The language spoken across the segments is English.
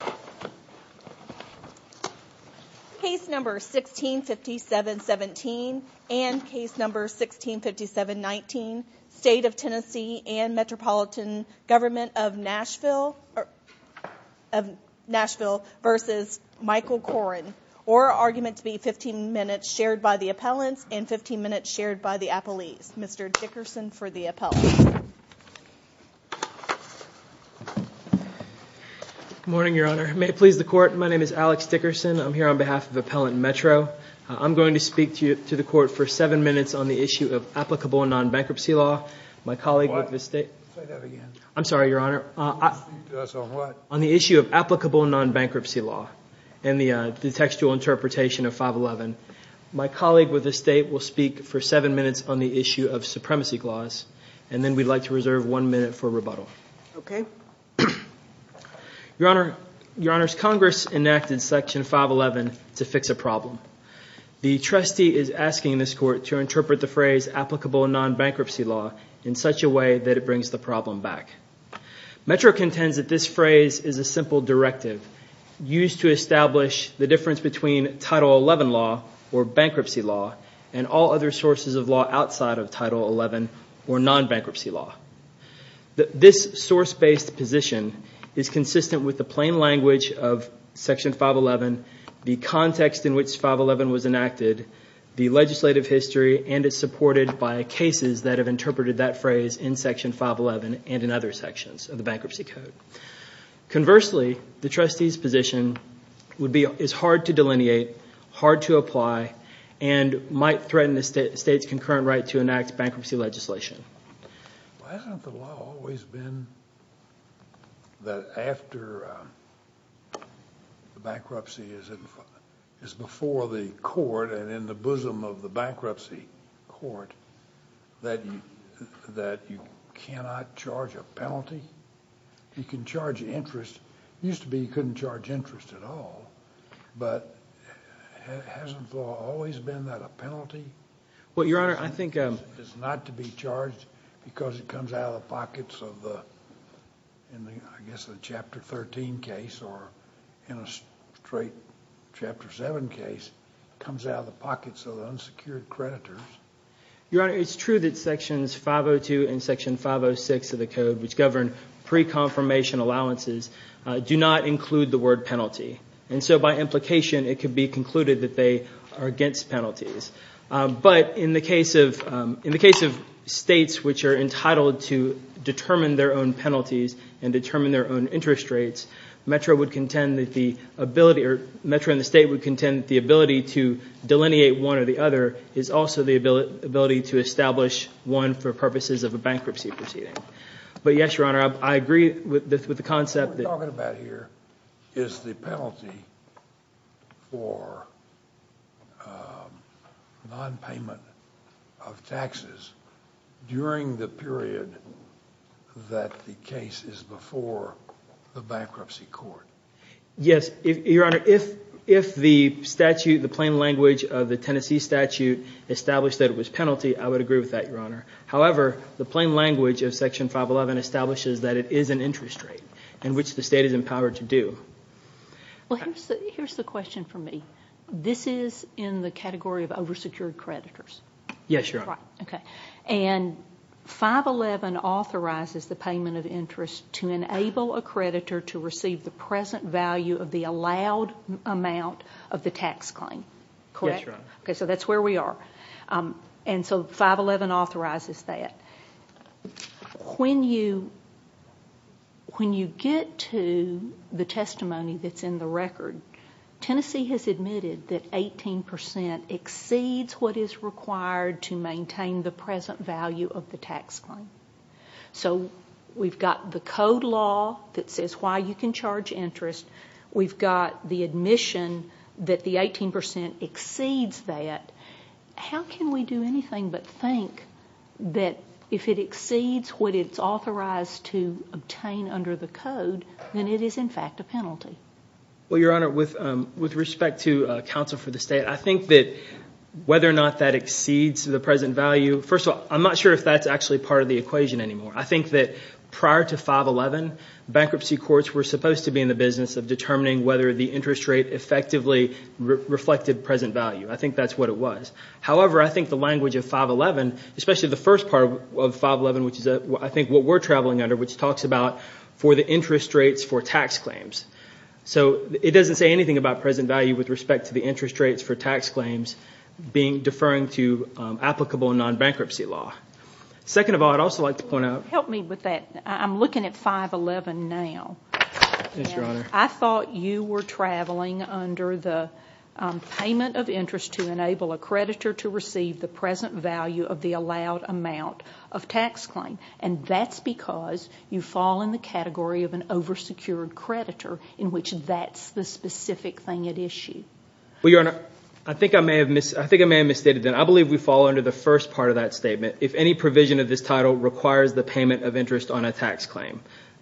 15 minutes shared by the appellants and 15 minutes shared by the Appellees. Mr. Dickerson for the appellate. Good morning, Your Honor. May it please the Court, my name is Alex Dickerson. I'm here on behalf of Appellant Metro. I'm going to speak to the Court for seven minutes on the issue of applicable non-bankruptcy law. My colleague with the State... What? Say that again. I'm sorry, Your Honor. You're going to speak to us on what? On the issue of applicable non-bankruptcy law and the textual interpretation of 511. My colleague with the State will speak for seven minutes on the issue of supremacy clause and then we'd like to reserve one minute for rebuttal. Okay. Your Honor, Your Honor's Congress enacted Section 511 to fix a problem. The trustee is asking this Court to interpret the phrase applicable non-bankruptcy law in such a way that it brings the problem back. Metro contends that this phrase is a simple directive used to establish the difference between Title 11 law or bankruptcy law and all other sources of law outside of Title 11 or non-bankruptcy law. This source-based position is consistent with the plain language of Section 511, the context in which 511 was enacted, the legislative history, and is supported by cases that have interpreted that phrase in Section 511 and in other sections of the Bankruptcy Code. Conversely, the trustee's position is hard to delineate, hard to apply, and might threaten the State's concurrent right to enact bankruptcy legislation. Well, hasn't the law always been that after the bankruptcy is before the court and in the bosom of the bankruptcy court that you cannot charge a penalty? You can charge interest. It used to be you couldn't charge interest at all, but hasn't the law always been that a penalty is not to be charged because it comes out of the pockets of the, I guess the Chapter 13 case or in a straight Chapter 7 case, comes out of the pockets of the unsecured creditors? Your Honor, it's true that Sections 502 and Section 506 of the Code, which govern pre-confirmation allowances, do not include the word penalty. And so by implication, it could be concluded that they are against penalties. But in the case of States which are entitled to determine their own penalties and determine their own interest rates, Metro and the State would contend that the ability to delineate one or the other is also the ability to establish one for purposes of a bankruptcy proceeding. But yes, Your Honor, I agree with the concept that... What we're talking about here is the penalty for non-payment of taxes during the period that the case is before the bankruptcy court. Yes, Your Honor, if the statute, the plain language of the Tennessee statute established that it was penalty, I would agree with that, Your Honor. However, the plain language of Section 511 establishes that it is an interest rate in which the State is empowered to do. Well, here's the question for me. This is in the category of over-secured creditors? Yes, Your Honor. And 511 authorizes the payment of interest to enable a creditor to receive the present value of the allowed amount of the tax claim, correct? Yes, Your Honor. Okay, so that's where we are. And so 511 authorizes that. When you get to the testimony that's in the record, Tennessee has admitted that 18 percent exceeds what is required to maintain the present value of the tax claim. So we've got the code law that says why you can charge interest. We've got the admission that the 18 percent exceeds that. How can we do anything but think that if it exceeds what it's authorized to obtain under the code, then it is in fact a penalty? Well, Your Honor, with respect to counsel for the State, I think that whether or not that exceeds the present value, first of all, I'm not sure if that's actually part of the equation anymore. I think that prior to 511, bankruptcy courts were supposed to be in the business of determining whether the interest rate effectively reflected present value. I think that's what it was. However, I think the language of 511, especially the first part of 511, which is I think what we're traveling under, which talks about for the interest rates for tax claims. So it doesn't say anything about present value with respect to the interest rates for tax claims being deferring to applicable non-bankruptcy law. Second of all, I'd also like to point out... Help me with that. I'm looking at 511 now. Yes, Your Honor. I thought you were traveling under the payment of interest to enable a creditor to receive the present value of the allowed amount of tax claim. That's because you fall in the category of an over-secured creditor in which that's the specific thing at issue. Well, Your Honor, I think I may have misstated that. I believe we fall under the first part of that statement. If any provision of this title requires the payment of interest on a tax claim,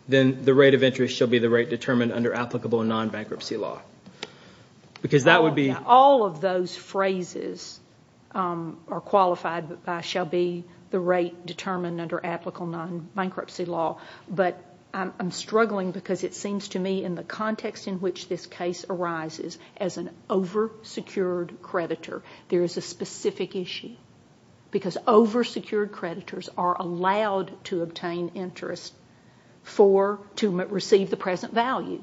then the rate of interest shall be the rate determined under applicable non-bankruptcy law. Because that would be... All of those phrases are qualified by shall be the rate determined under applicable non-bankruptcy law. But I'm struggling because it seems to me in the context in which this case arises as an over-secured creditor, there is a specific issue. Because over-secured creditors are allowed to obtain interest to receive the present value.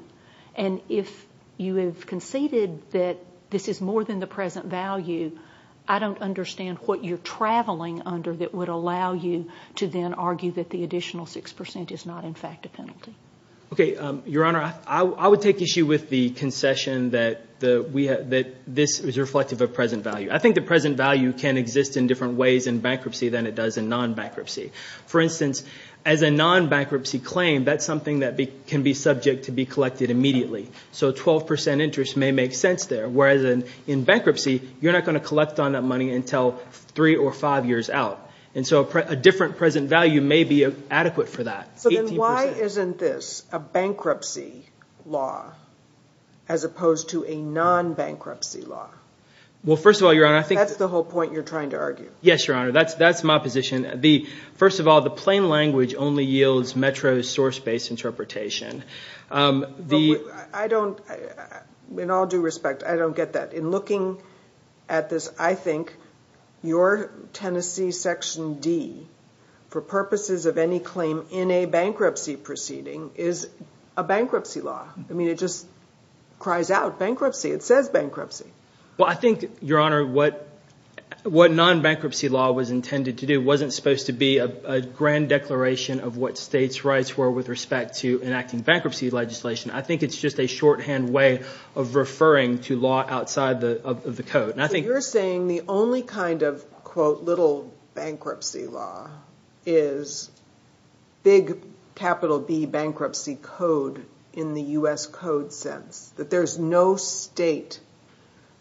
If you have conceded that this is more than the present value, I don't understand what you're traveling under that would allow you to then argue that the additional 6% is not in fact a penalty. Your Honor, I would take issue with the concession that this is reflective of present value. I think the present value can exist in different ways in bankruptcy than it does in non-bankruptcy. For instance, as a non-bankruptcy claim, that's something that can be subject to be collected immediately. So 12% interest may make sense there. Whereas in bankruptcy, you're not going to collect on that money until three or five years out. And so a different present value may be adequate for that. So then why isn't this a bankruptcy law as opposed to a non-bankruptcy law? Well first of all, Your Honor, I think... That's the whole point you're trying to argue. Yes, Your Honor. That's my position. First of all, the plain language only yields METRO's source-based interpretation. I don't... In all due respect, I don't get that. In looking at this, I think your Tennessee Section D, for purposes of any claim in a bankruptcy proceeding, is a bankruptcy law. I mean, it just cries out bankruptcy. It says bankruptcy. Well, I think, Your Honor, what non-bankruptcy law was intended to do wasn't supposed to be a grand declaration of what states' rights were with respect to enacting bankruptcy legislation. I think it's just a shorthand way of referring to law outside of the code. And I think... So you're saying the only kind of, quote, little bankruptcy law is big capital B bankruptcy code in the U.S. code sense. That there's no state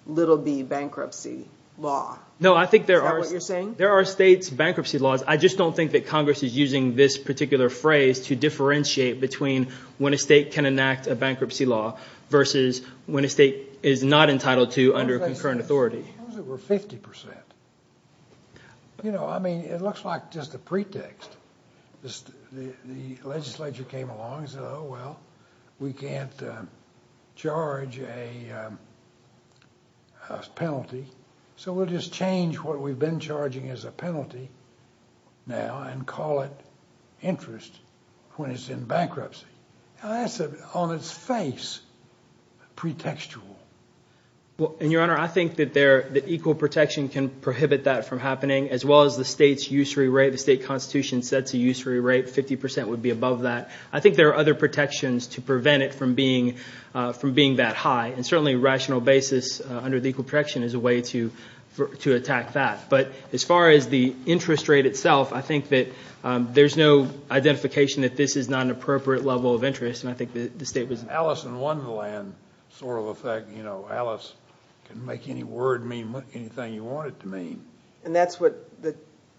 little B bankruptcy law. Is that what you're saying? No, I think there are... There are states' bankruptcy laws. I just don't think that Congress is using this particular phrase to differentiate between when a state can enact a bankruptcy law versus when a state is not entitled to under concurrent authority. What if they said it was over 50 percent? You know, I mean, it looks like just a pretext. The legislature came along and said, oh, well, we can't charge a penalty. So we'll just change what we've been charging as a penalty now and call it interest when it's in bankruptcy. Now, that's on its face pretextual. Well, and Your Honor, I think that there, that equal protection can prohibit that from being set to use for a rate 50 percent would be above that. I think there are other protections to prevent it from being that high. And certainly rational basis under the equal protection is a way to attack that. But as far as the interest rate itself, I think that there's no identification that this is not an appropriate level of interest. And I think the state was... Alice in Wonderland sort of effect, you know, Alice can make any word mean anything you want it to mean. And that's what the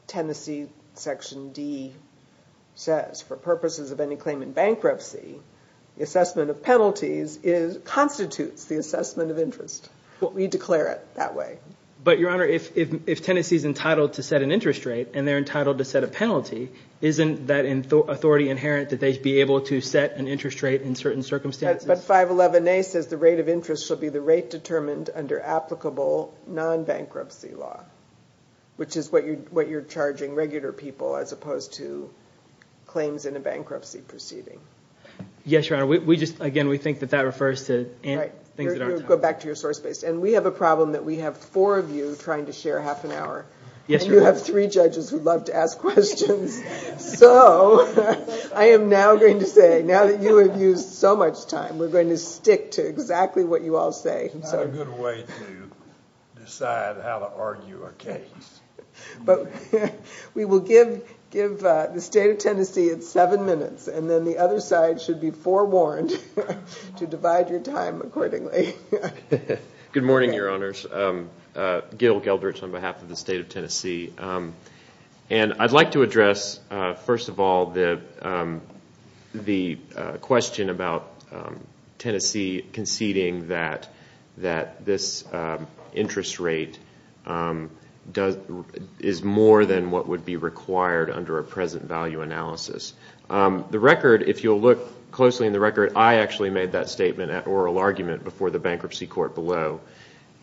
Tennessee Section D says. For purposes of any claim in bankruptcy, the assessment of penalties constitutes the assessment of interest. We declare it that way. But Your Honor, if Tennessee's entitled to set an interest rate and they're entitled to set a penalty, isn't that authority inherent that they be able to set an interest rate in certain circumstances? But 511A says the rate of interest should be the rate determined under applicable non-bankruptcy law, which is what you're charging regular people as opposed to claims in a bankruptcy proceeding. Yes, Your Honor. We just, again, we think that that refers to things that aren't... Right. Go back to your source base. And we have a problem that we have four of you trying to share half an hour. Yes, Your Honor. And you have three judges who love to ask questions. So I am now going to say, now that you have used so much time, we're going to stick to exactly what you all say. It's not a good way to decide how to argue a case. We will give the State of Tennessee seven minutes, and then the other side should be forewarned to divide your time accordingly. Good morning, Your Honors. Gil Gelderts on behalf of the State of Tennessee. And I'd like to address, first of all, the question about Tennessee conceding that this interest rate is more than what would be required under a present value analysis. The record, if you'll look closely in the record, I actually made that statement at oral argument before the bankruptcy court below.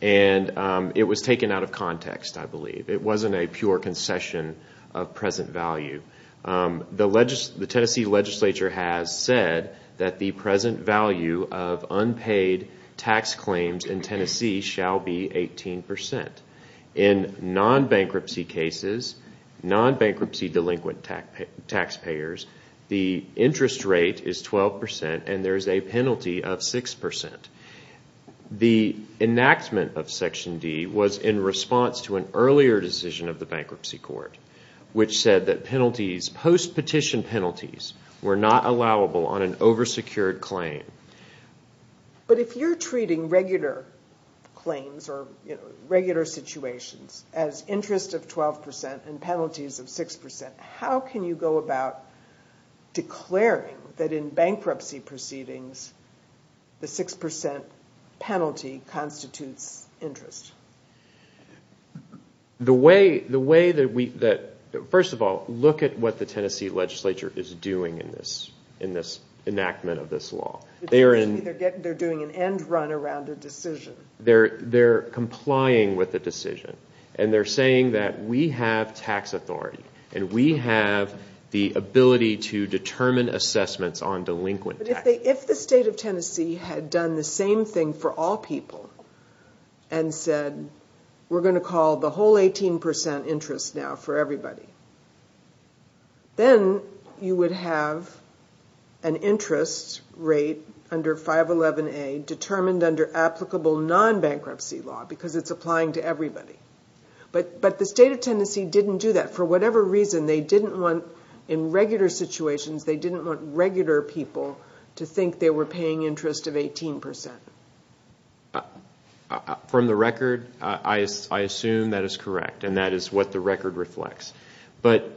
And it was taken out of context, I believe. It wasn't a pure concession of present value. The Tennessee legislature has said that the present value of unpaid tax claims in Tennessee shall be 18%. In non-bankruptcy cases, non-bankruptcy delinquent taxpayers, the interest rate is 12%, and there is a penalty of 6%. The enactment of Section D was in response to an earlier decision of the bankruptcy court, which said that penalties, post-petition penalties, were not allowable on an over-secured claim. But if you're treating regular claims or regular situations as interest of 12% and penalties of 6%, how can you go about declaring that in bankruptcy proceedings the 6% penalty constitutes interest? The way that we, first of all, look at what the Tennessee legislature is doing in this enactment of this law. They're doing an end run around a decision. They're complying with the decision. And they're saying that we have tax authority, and we have the ability to determine assessments on delinquent tax. If the state of Tennessee had done the same thing for all people and said, we're going to call the whole 18% interest now for everybody, then you would have an interest rate under 511A determined under applicable non-bankruptcy law, because it's applying to everybody. But the state of Tennessee didn't do that. For whatever reason, they didn't want, in regular situations, they didn't want regular people to think they were paying interest of 18%. From the record, I assume that is correct, and that is what the record reflects. But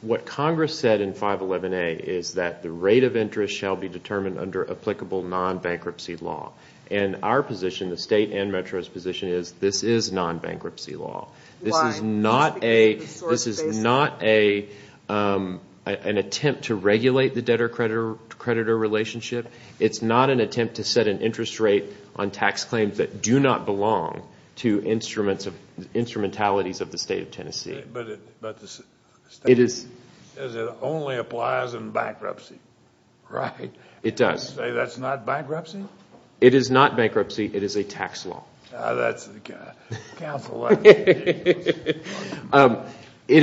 what Congress said in 511A is that the rate of interest shall be determined under applicable non-bankruptcy law. And our position, the state and Metro's position, is this is non-bankruptcy law. This is not an attempt to regulate the debtor-creditor relationship. It's not an attempt to set an interest rate on tax claims that do not belong to instrumentalities of the state of Tennessee. But the state says it only applies in bankruptcy. Right. It does. You say that's not bankruptcy? It is not bankruptcy. It is a tax law. Now, that's the counsel. It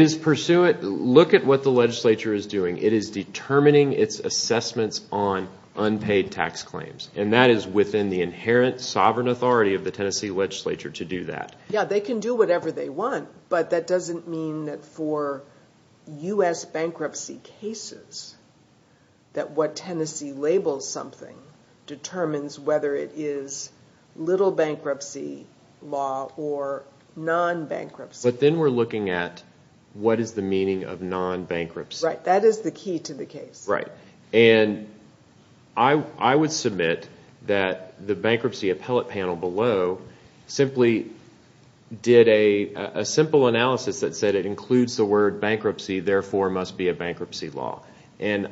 is pursuant, look at what the legislature is doing. It is determining its assessments on unpaid tax claims. And that is within the inherent sovereign authority of the Tennessee legislature to do that. Yeah, they can do whatever they want, but that doesn't mean that for U.S. bankruptcy cases that what Tennessee labels something determines whether it is little bankruptcy law or non-bankruptcy. But then we're looking at what is the meaning of non-bankruptcy. Right. That is the key to the case. Right. And I would submit that the bankruptcy appellate panel below simply did a simple analysis that it includes the word bankruptcy, therefore it must be a bankruptcy law. And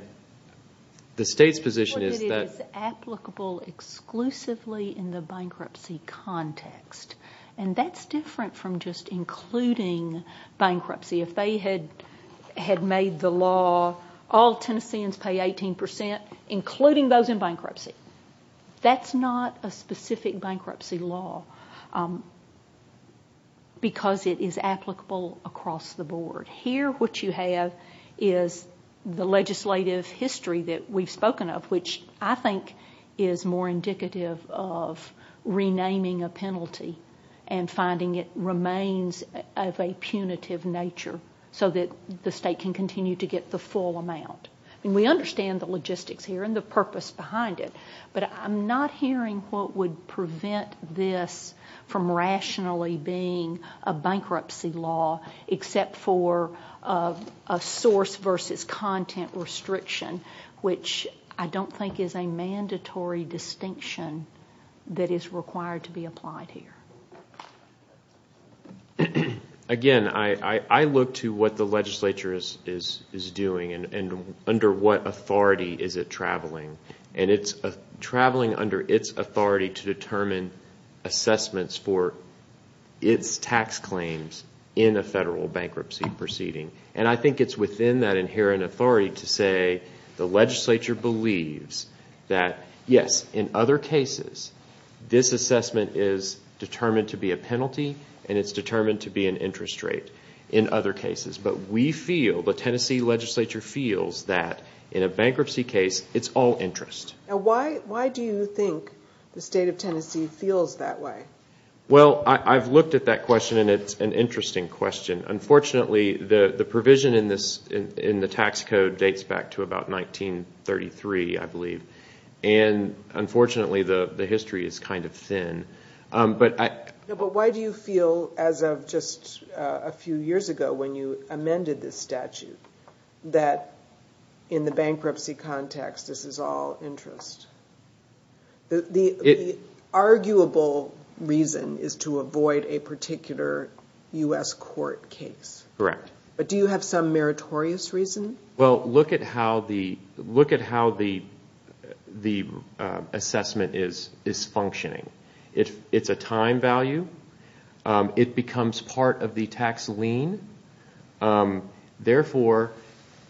the state's position is that... It is applicable exclusively in the bankruptcy context. And that's different from just including bankruptcy. If they had made the law, all Tennesseans pay 18 percent, including those in bankruptcy. That's not a specific bankruptcy law because it is applicable across the board. Here what you have is the legislative history that we've spoken of, which I think is more indicative of renaming a penalty and finding it remains of a punitive nature so that the state can continue to get the full amount. We understand the logistics here and the purpose behind it, but I'm not hearing what would prevent this from rationally being a bankruptcy law except for a source versus content restriction, which I don't think is a mandatory distinction that is required to be applied here. Again, I look to what the legislature is doing and under what authority is it traveling. And it's traveling under its authority to determine assessments for its tax claims in a federal bankruptcy proceeding. And I think it's within that inherent authority to say the legislature believes that, yes, in other cases, this assessment is determined to be a penalty and it's determined to be an interest rate in other cases. But we feel, the Tennessee legislature feels, that in a bankruptcy case, it's all interest. Why do you think the state of Tennessee feels that way? Well, I've looked at that question and it's an interesting question. Unfortunately, the provision in the tax code dates back to about 1933, I believe. And unfortunately, the history is kind of thin. But why do you feel, as of just a few years ago when you amended this statute, that in the bankruptcy context, this is all interest? The arguable reason is to avoid a particular U.S. court case, but do you have some meritorious reason? Well, look at how the assessment is functioning. It's a time value. It becomes part of the tax lien. Therefore,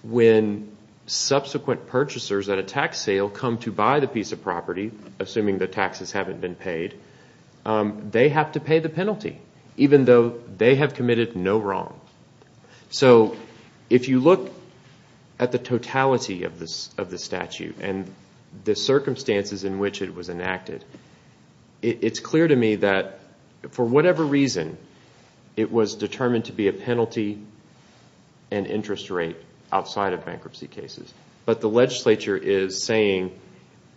when subsequent purchasers at a tax sale come to buy the piece of property, assuming the taxes haven't been paid, they have to pay the penalty, even though they have committed no wrong. So, if you look at the totality of this statute and the circumstances in which it was enacted, it's clear to me that for whatever reason, it was determined to be a penalty and interest rate outside of bankruptcy cases. But the legislature is saying,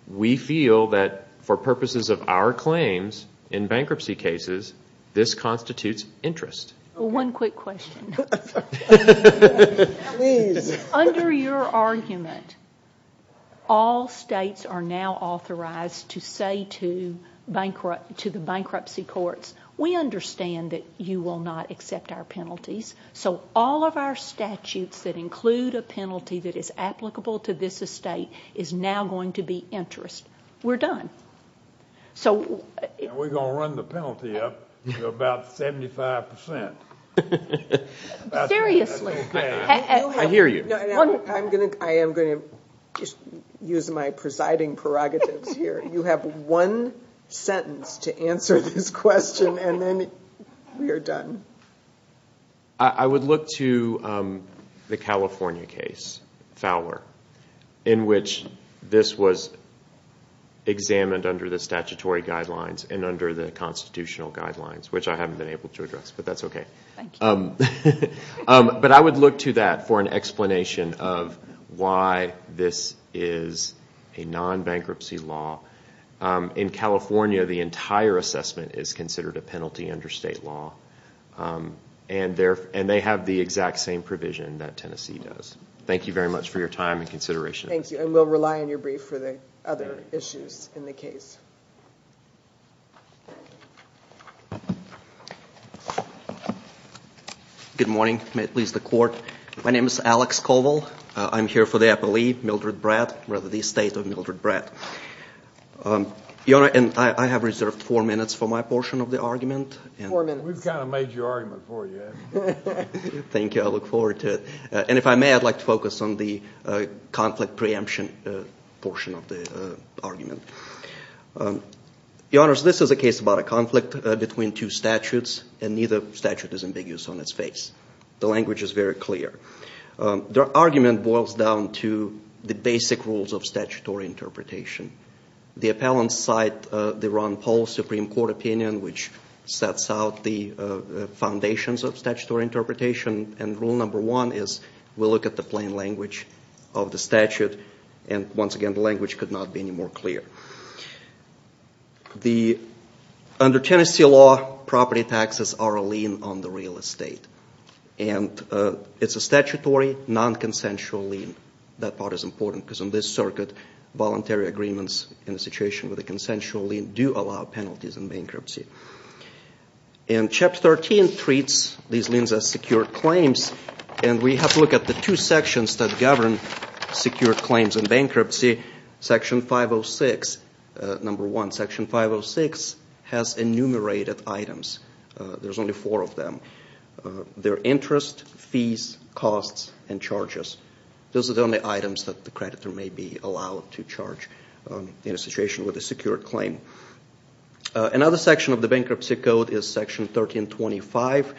we feel that for purposes of our claims in bankruptcy cases, this constitutes interest. Well, one quick question. Please. Under your argument, all states are now authorized to say to the bankruptcy courts, we understand that you will not accept our penalties, so all of our statutes that include a penalty that is applicable to this estate is now going to be interest. We're done. Now, we're going to run the penalty up to about 75%. Seriously. I hear you. I am going to use my presiding prerogatives here. You have one sentence to answer this question, and then we are done. I would look to the California case, Fowler, in which this was examined under the statutory guidelines and under the constitutional guidelines, which I haven't been able to address, but that's okay. Thank you. But I would look to that for an explanation of why this is a non-bankruptcy law. In California, the entire assessment is considered a penalty under state law, and they have the exact same provision that Tennessee does. Thank you very much for your time and consideration. Thank you, and we'll rely on your brief for the other issues in the case. Good morning. May it please the Court. My name is Alex Colville. I'm here for the appellee, Mildred Bratt, rather the estate of Mildred Bratt. Your Honor, I have reserved four minutes for my portion of the argument. Four minutes. We've kind of made your argument for you. Thank you. I look forward to it, and if I may, I'd like to focus on the conflict preemption portion of the argument. Your Honors, this is a case about a conflict between two statutes, and neither statute is ambiguous on its face. The language is very clear. The argument boils down to the basic rules of statutory interpretation. The appellants cite the Ron Paul Supreme Court opinion, which sets out the foundations of statutory interpretation, and rule number one is we'll look at the plain language of the statute, and once again, the language could not be any more clear. Under Tennessee law, property taxes are a lien on the real estate. It's a statutory, non-consensual lien. That part is important, because in this circuit, voluntary agreements in a situation with a consensual lien do allow penalties in bankruptcy. Chapter 13 treats these liens as secured claims, and we have to look at the two sections that govern secured claims in bankruptcy. Section 506, number one, Section 506 has enumerated items. There's only four of them. They're interest, fees, costs, and charges. Those are the only items that the creditor may be allowed to charge in a situation with a secured claim. Another section of the bankruptcy code is Section 1325.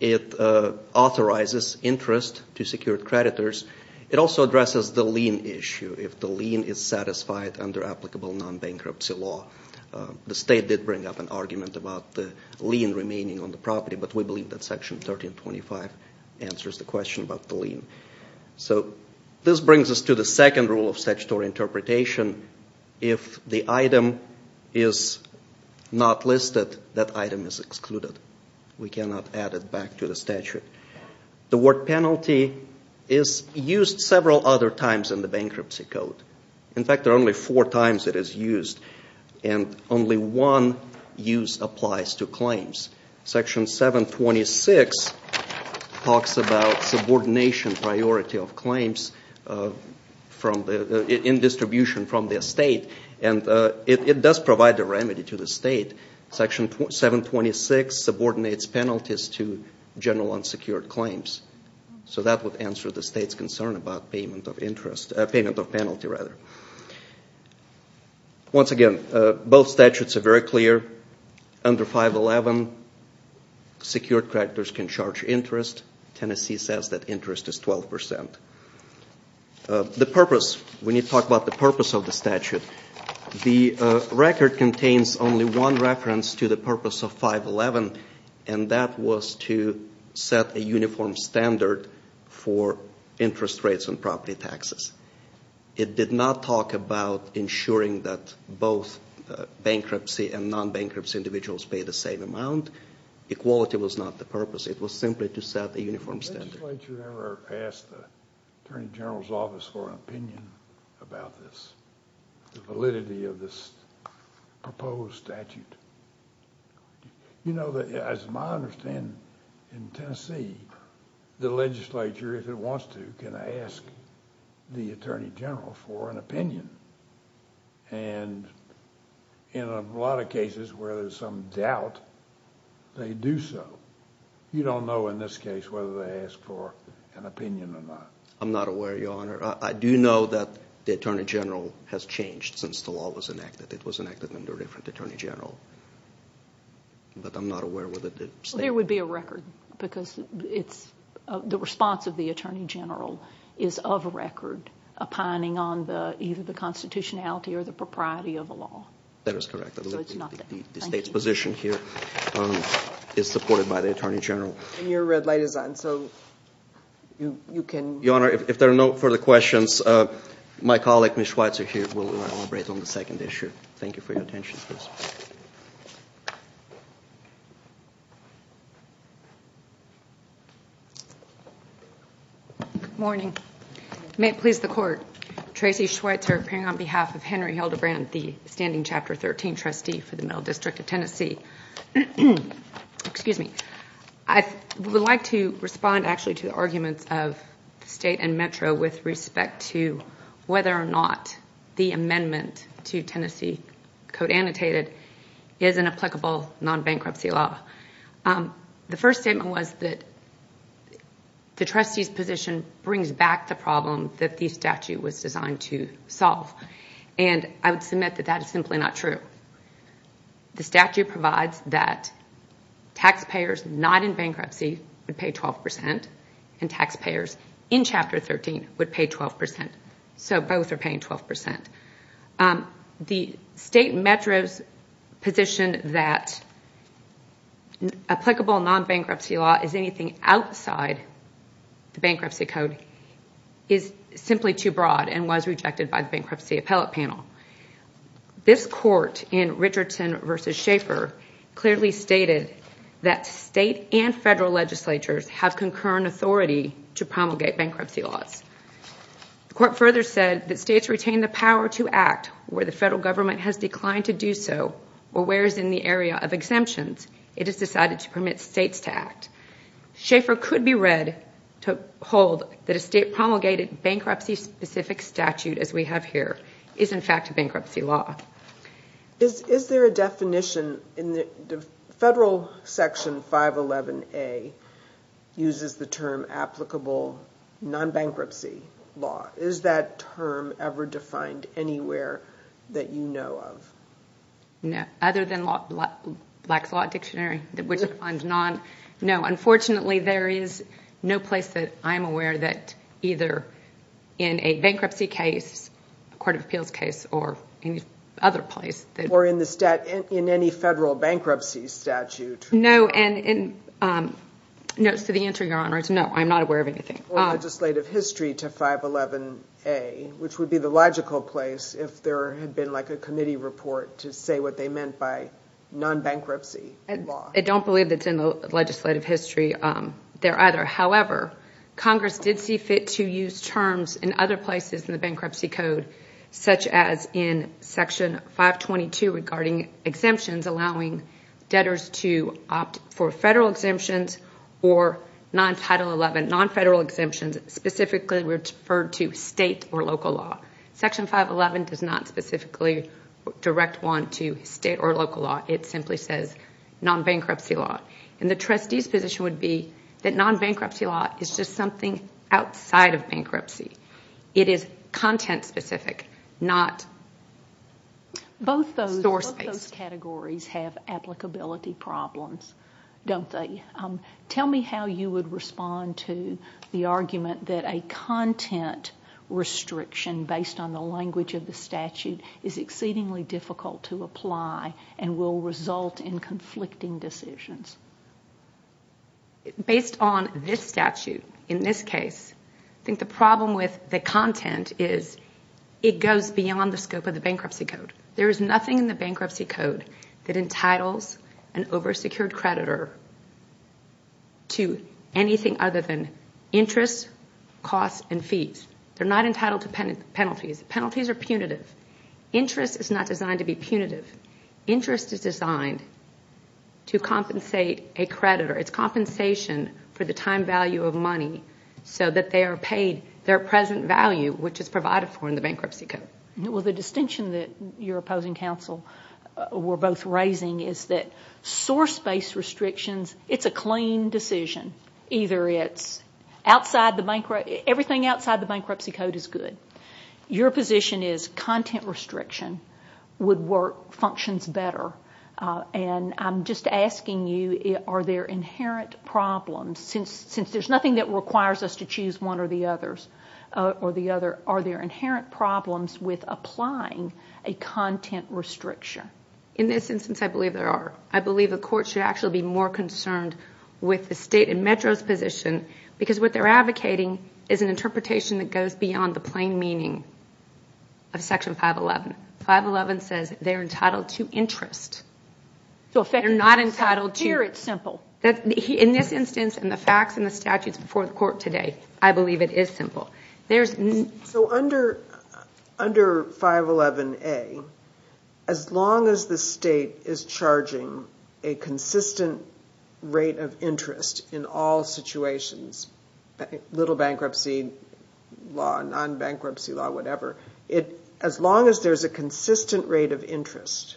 It authorizes interest to secured creditors. It also addresses the lien issue, if the lien is satisfied under applicable non-bankruptcy law. The state did bring up an argument about the lien remaining on the property, but we believe that Section 1325 answers the question about the lien. So this brings us to the second rule of statutory interpretation. If the item is not listed, that item is excluded. We cannot add it back to the statute. The word penalty is used several other times in the bankruptcy code. In fact, there are only four times it is used, and only one use applies to claims. Section 726 talks about subordination priority of claims in distribution from the estate, and it does provide a remedy to the state. Section 726 subordinates penalties to general unsecured claims. So that would answer the state's concern about payment of penalty. Once again, both statutes are very clear. Under 511, secured creditors can charge interest. Tennessee says that interest is 12%. We need to talk about the purpose of the statute. The record contains only one reference to the purpose of 511, and that was to set a uniform standard for interest rates on property taxes. It did not talk about ensuring that both bankruptcy and non-bankruptcy individuals pay the same amount. Equality was not the purpose. It was simply to set a uniform standard. Has the legislature ever asked the attorney general's office for an opinion about this, the validity of this proposed statute? You know, as I understand, in Tennessee, the legislature, if it wants to, can ask the attorney general for an opinion, and in a lot of cases where there's some doubt, they do so. You don't know in this case whether they ask for an opinion or not. I'm not aware, Your Honor. I do know that the attorney general has changed since the law was enacted. It was enacted under a different attorney general. But I'm not aware whether the state has changed. There would be a record because the response of the attorney general is of a record, opining on either the constitutionality or the propriety of the law. That is correct. The state's position here is supported by the attorney general. And your red light is on, so you can. Your Honor, if there are no further questions, my colleague, Ms. Schweitzer, here, will elaborate on the second issue. Thank you for your attention. Good morning. May it please the Court, Tracy Schweitzer appearing on behalf of Henry Hildebrand, the standing Chapter 13 trustee for the Middle District of Tennessee. Excuse me. I would like to respond actually to the arguments of the state and Metro with respect to whether or not the amendment to Tennessee Code annotated is an applicable non-bankruptcy law. The first statement was that the trustee's position brings back the problem that the statute was designed to solve. And I would submit that that is simply not true. The statute provides that taxpayers not in bankruptcy would pay 12%, and taxpayers in Chapter 13 would pay 12%. So both are paying 12%. The state and Metro's position that applicable non-bankruptcy law is anything outside the bankruptcy code is simply too broad and was rejected by the bankruptcy appellate panel. This court in Richardson v. Schaeffer clearly stated that state and federal legislatures have concurrent authority to promulgate bankruptcy laws. The court further said that states retain the power to act where the federal government has declined to do so or whereas in the area of exemptions it is decided to permit states to act. Schaeffer could be read to hold that a state promulgated bankruptcy-specific statute as we have here is in fact a bankruptcy law. Is there a definition? Federal Section 511A uses the term applicable non-bankruptcy law. Is that term ever defined anywhere that you know of? No, other than Black's Law Dictionary. No, unfortunately there is no place that I am aware that either in a bankruptcy case, a court of appeals case or any other place. Or in any federal bankruptcy statute? No, so the answer, Your Honor, is no, I am not aware of anything. Or legislative history to 511A, which would be the logical place if there had been like a committee report to say what they meant by non-bankruptcy law. I don't believe it's in the legislative history there either. However, Congress did see fit to use terms in other places in the bankruptcy code such as in Section 522 regarding exemptions allowing debtors to opt for federal exemptions or non-Federal exemptions specifically referred to state or local law. Section 511 does not specifically direct one to state or local law. It simply says non-bankruptcy law. And the trustee's position would be that non-bankruptcy law is just something outside of bankruptcy. It is content specific, not store space. Both those categories have applicability problems, don't they? Tell me how you would respond to the argument that a content restriction based on the language of the statute is exceedingly difficult to apply and will result in conflicting decisions. Based on this statute in this case, I think the problem with the content is it goes beyond the scope of the bankruptcy code. There is nothing in the bankruptcy code that entitles an over-secured creditor to anything other than interest, costs, and fees. Penalties are punitive. Interest is not designed to be punitive. Interest is designed to compensate a creditor. It's compensation for the time value of money so that they are paid their present value, which is provided for in the bankruptcy code. Well, the distinction that you're opposing, Counsel, we're both raising, is that source-based restrictions, it's a clean decision. Either it's everything outside the bankruptcy code is good. Your position is content restriction would work, functions better. I'm just asking you, are there inherent problems? Since there's nothing that requires us to choose one or the other, are there inherent problems with applying a content restriction? In this instance, I believe there are. I believe the court should actually be more concerned with the state and Metro's position because what they're advocating is an interpretation that goes beyond the plain meaning of Section 511. 511 says they're entitled to interest. They're not entitled to... Here it's simple. In this instance, in the facts and the statutes before the court today, I believe it is simple. So under 511A, as long as the state is charging a consistent rate of interest in all situations, little bankruptcy law, non-bankruptcy law, whatever, as long as there's a consistent rate of interest,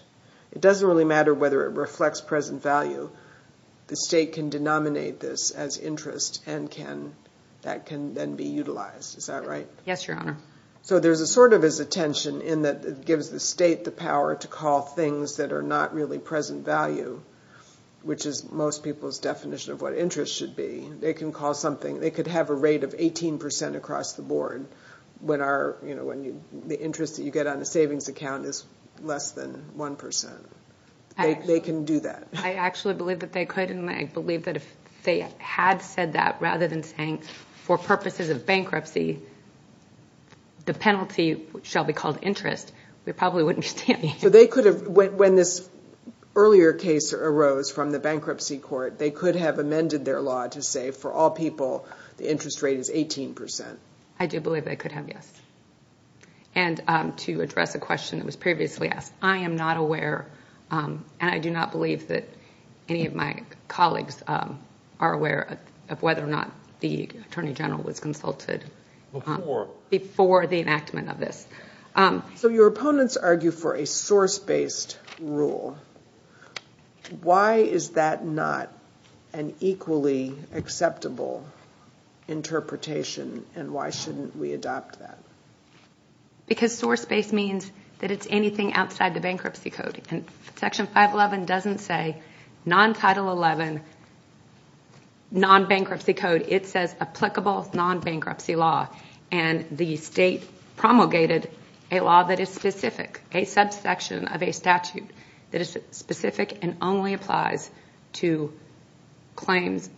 it doesn't really matter whether it reflects present value. The state can denominate this as interest and that can then be utilized. Is that right? Yes, Your Honor. So there's a sort of a tension in that it gives the state the power to call things that are not really present value, which is most people's definition of what interest should be. They can call something. They could have a rate of 18% across the board when the interest that you get on a savings account is less than 1%. They can do that. I actually believe that they could, and I believe that if they had said that rather than saying, for purposes of bankruptcy, the penalty shall be called interest, we probably wouldn't be standing here. So they could have, when this earlier case arose from the bankruptcy court, they could have amended their law to say, for all people, the interest rate is 18%. I do believe they could have, yes. And to address a question that was previously asked, I am not aware, and I do not believe that any of my colleagues are aware, of whether or not the Attorney General was consulted before the enactment of this. So your opponents argue for a source-based rule. Why is that not an equally acceptable interpretation, and why shouldn't we adopt that? Because source-based means that it's anything outside the bankruptcy code. Section 511 doesn't say non-Title 11, non-bankruptcy code. It says applicable non-bankruptcy law, and the state promulgated a law that is specific, a subsection of a statute that is specific and only applies to claims,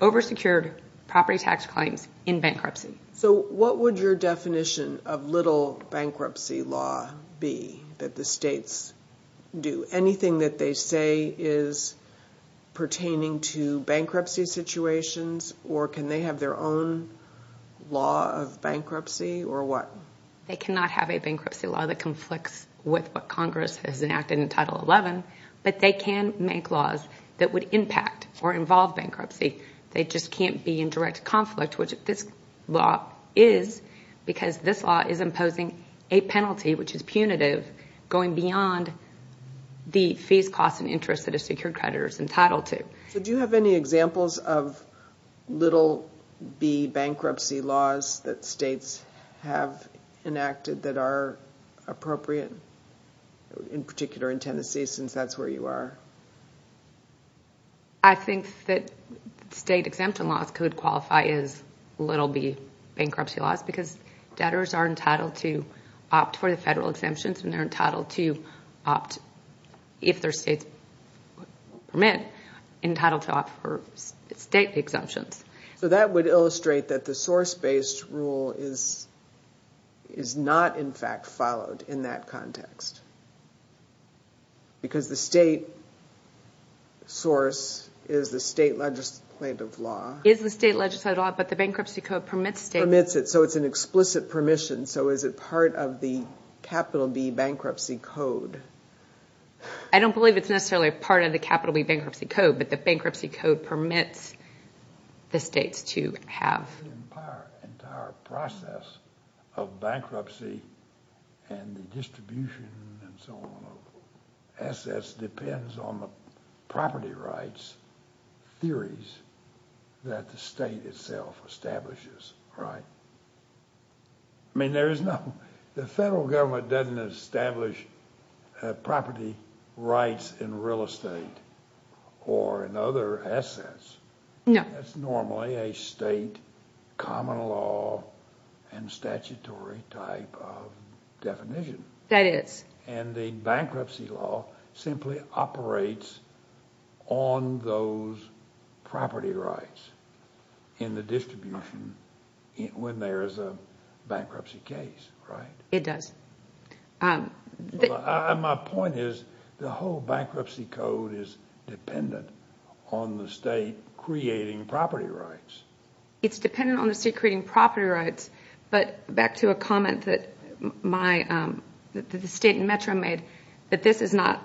over-secured property tax claims in bankruptcy. So what would your definition of little bankruptcy law be that the states do? Anything that they say is pertaining to bankruptcy situations, or can they have their own law of bankruptcy, or what? They cannot have a bankruptcy law that conflicts with what Congress has enacted in Title 11, but they can make laws that would impact or involve bankruptcy. They just can't be in direct conflict, which this law is, because this law is imposing a penalty, which is punitive, going beyond the fees, costs, and interests that a secured creditor is entitled to. So do you have any examples of little bankruptcy laws that states have enacted that are appropriate, in particular in Tennessee, since that's where you are? I think that state exemption laws could qualify as little bankruptcy laws because debtors are entitled to opt for the federal exemptions, and they're entitled to opt, if their states permit, entitled to opt for state exemptions. So that would illustrate that the source-based rule is not, in fact, followed in that context, because the state source is the state legislative law. Is the state legislative law, but the bankruptcy code permits states. Permits it, so it's an explicit permission. So is it part of the Capital B Bankruptcy Code? I don't believe it's necessarily part of the Capital B Bankruptcy Code, but the bankruptcy code permits the states to have. The entire process of bankruptcy and the distribution and so on of assets depends on the property rights theories that the state itself establishes, right? I mean, the federal government doesn't establish property rights in real estate or in other assets. No. That's normally a state common law and statutory type of definition. That is. And the bankruptcy law simply operates on those property rights in the distribution when there is a bankruptcy case, right? It does. My point is the whole bankruptcy code is dependent on the state creating property rights. It's dependent on the state creating property rights, but back to a comment that the state and Metro made, that this is not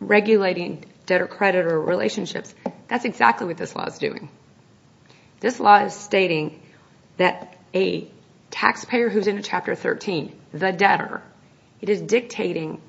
regulating debtor-creditor relationships. That's exactly what this law is doing. This law is stating that a taxpayer who's in a Chapter 13, the debtor, it is dictating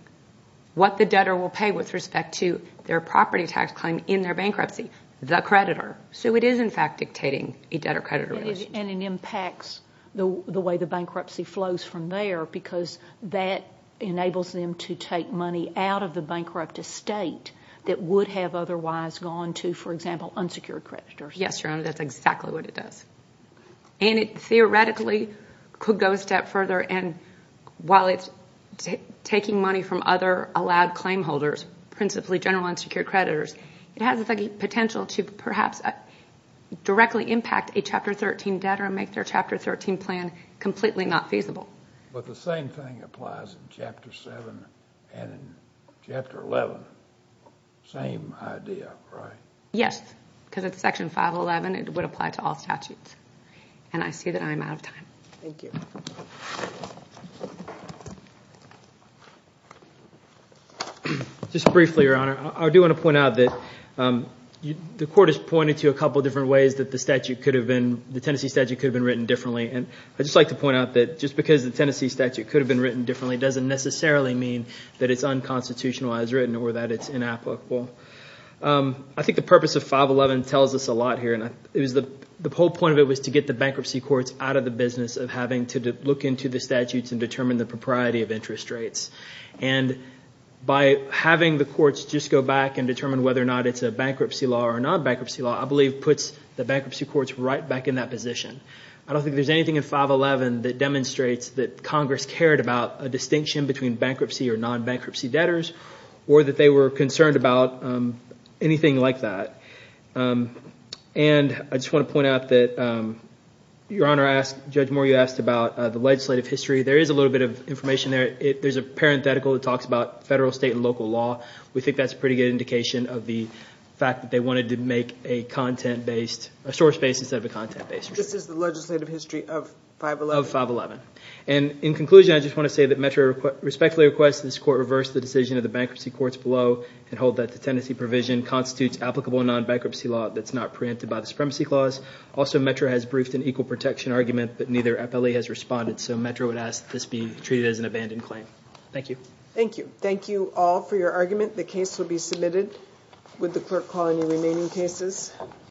what the debtor will pay with respect to their property tax claim in their bankruptcy, the creditor. So it is, in fact, dictating a debtor-creditor relationship. And it impacts the way the bankruptcy flows from there because that enables them to take money out of the bankrupt estate that would have otherwise gone to, for example, unsecured creditors. Yes, Your Honor, that's exactly what it does. And it theoretically could go a step further, and while it's taking money from other allowed claim holders, principally general unsecured creditors, it has the potential to perhaps directly impact a Chapter 13 debtor and make their Chapter 13 plan completely not feasible. But the same thing applies in Chapter 7 and in Chapter 11. Same idea, right? Yes, because it's Section 511. It would apply to all statutes. And I see that I'm out of time. Thank you. Just briefly, Your Honor, I do want to point out that the Court has pointed to a couple of different ways that the statute could have been, the Tennessee statute could have been written differently. And I'd just like to point out that just because the Tennessee statute could have been written differently doesn't necessarily mean that it's unconstitutionalized written or that it's inapplicable. I think the purpose of 511 tells us a lot here. The whole point of it was to get the bankruptcy courts out of the business of having to look into the statutes and determine the propriety of interest rates. And by having the courts just go back and determine whether or not it's a bankruptcy law or a non-bankruptcy law, I believe puts the bankruptcy courts right back in that position. I don't think there's anything in 511 that demonstrates that Congress cared about a distinction between bankruptcy or non-bankruptcy debtors or that they were concerned about anything like that. And I just want to point out that Your Honor asked, Judge Moore, you asked about the legislative history. There is a little bit of information there. There's a parenthetical that talks about federal, state, and local law. We think that's a pretty good indication of the fact that they wanted to make a content-based, a source-based instead of a content-based. This is the legislative history of 511? Of 511. And in conclusion, I just want to say that METRA respectfully requests that this Court reverse the decision of the bankruptcy courts below and hold that the tenancy provision constitutes applicable non-bankruptcy law that's not preempted by the Supremacy Clause. Also, METRA has briefed an equal protection argument, but neither FLE has responded, so METRA would ask that this be treated as an abandoned claim. Thank you. Thank you. Thank you all for your argument. The case will be submitted. Would the Court call any remaining cases?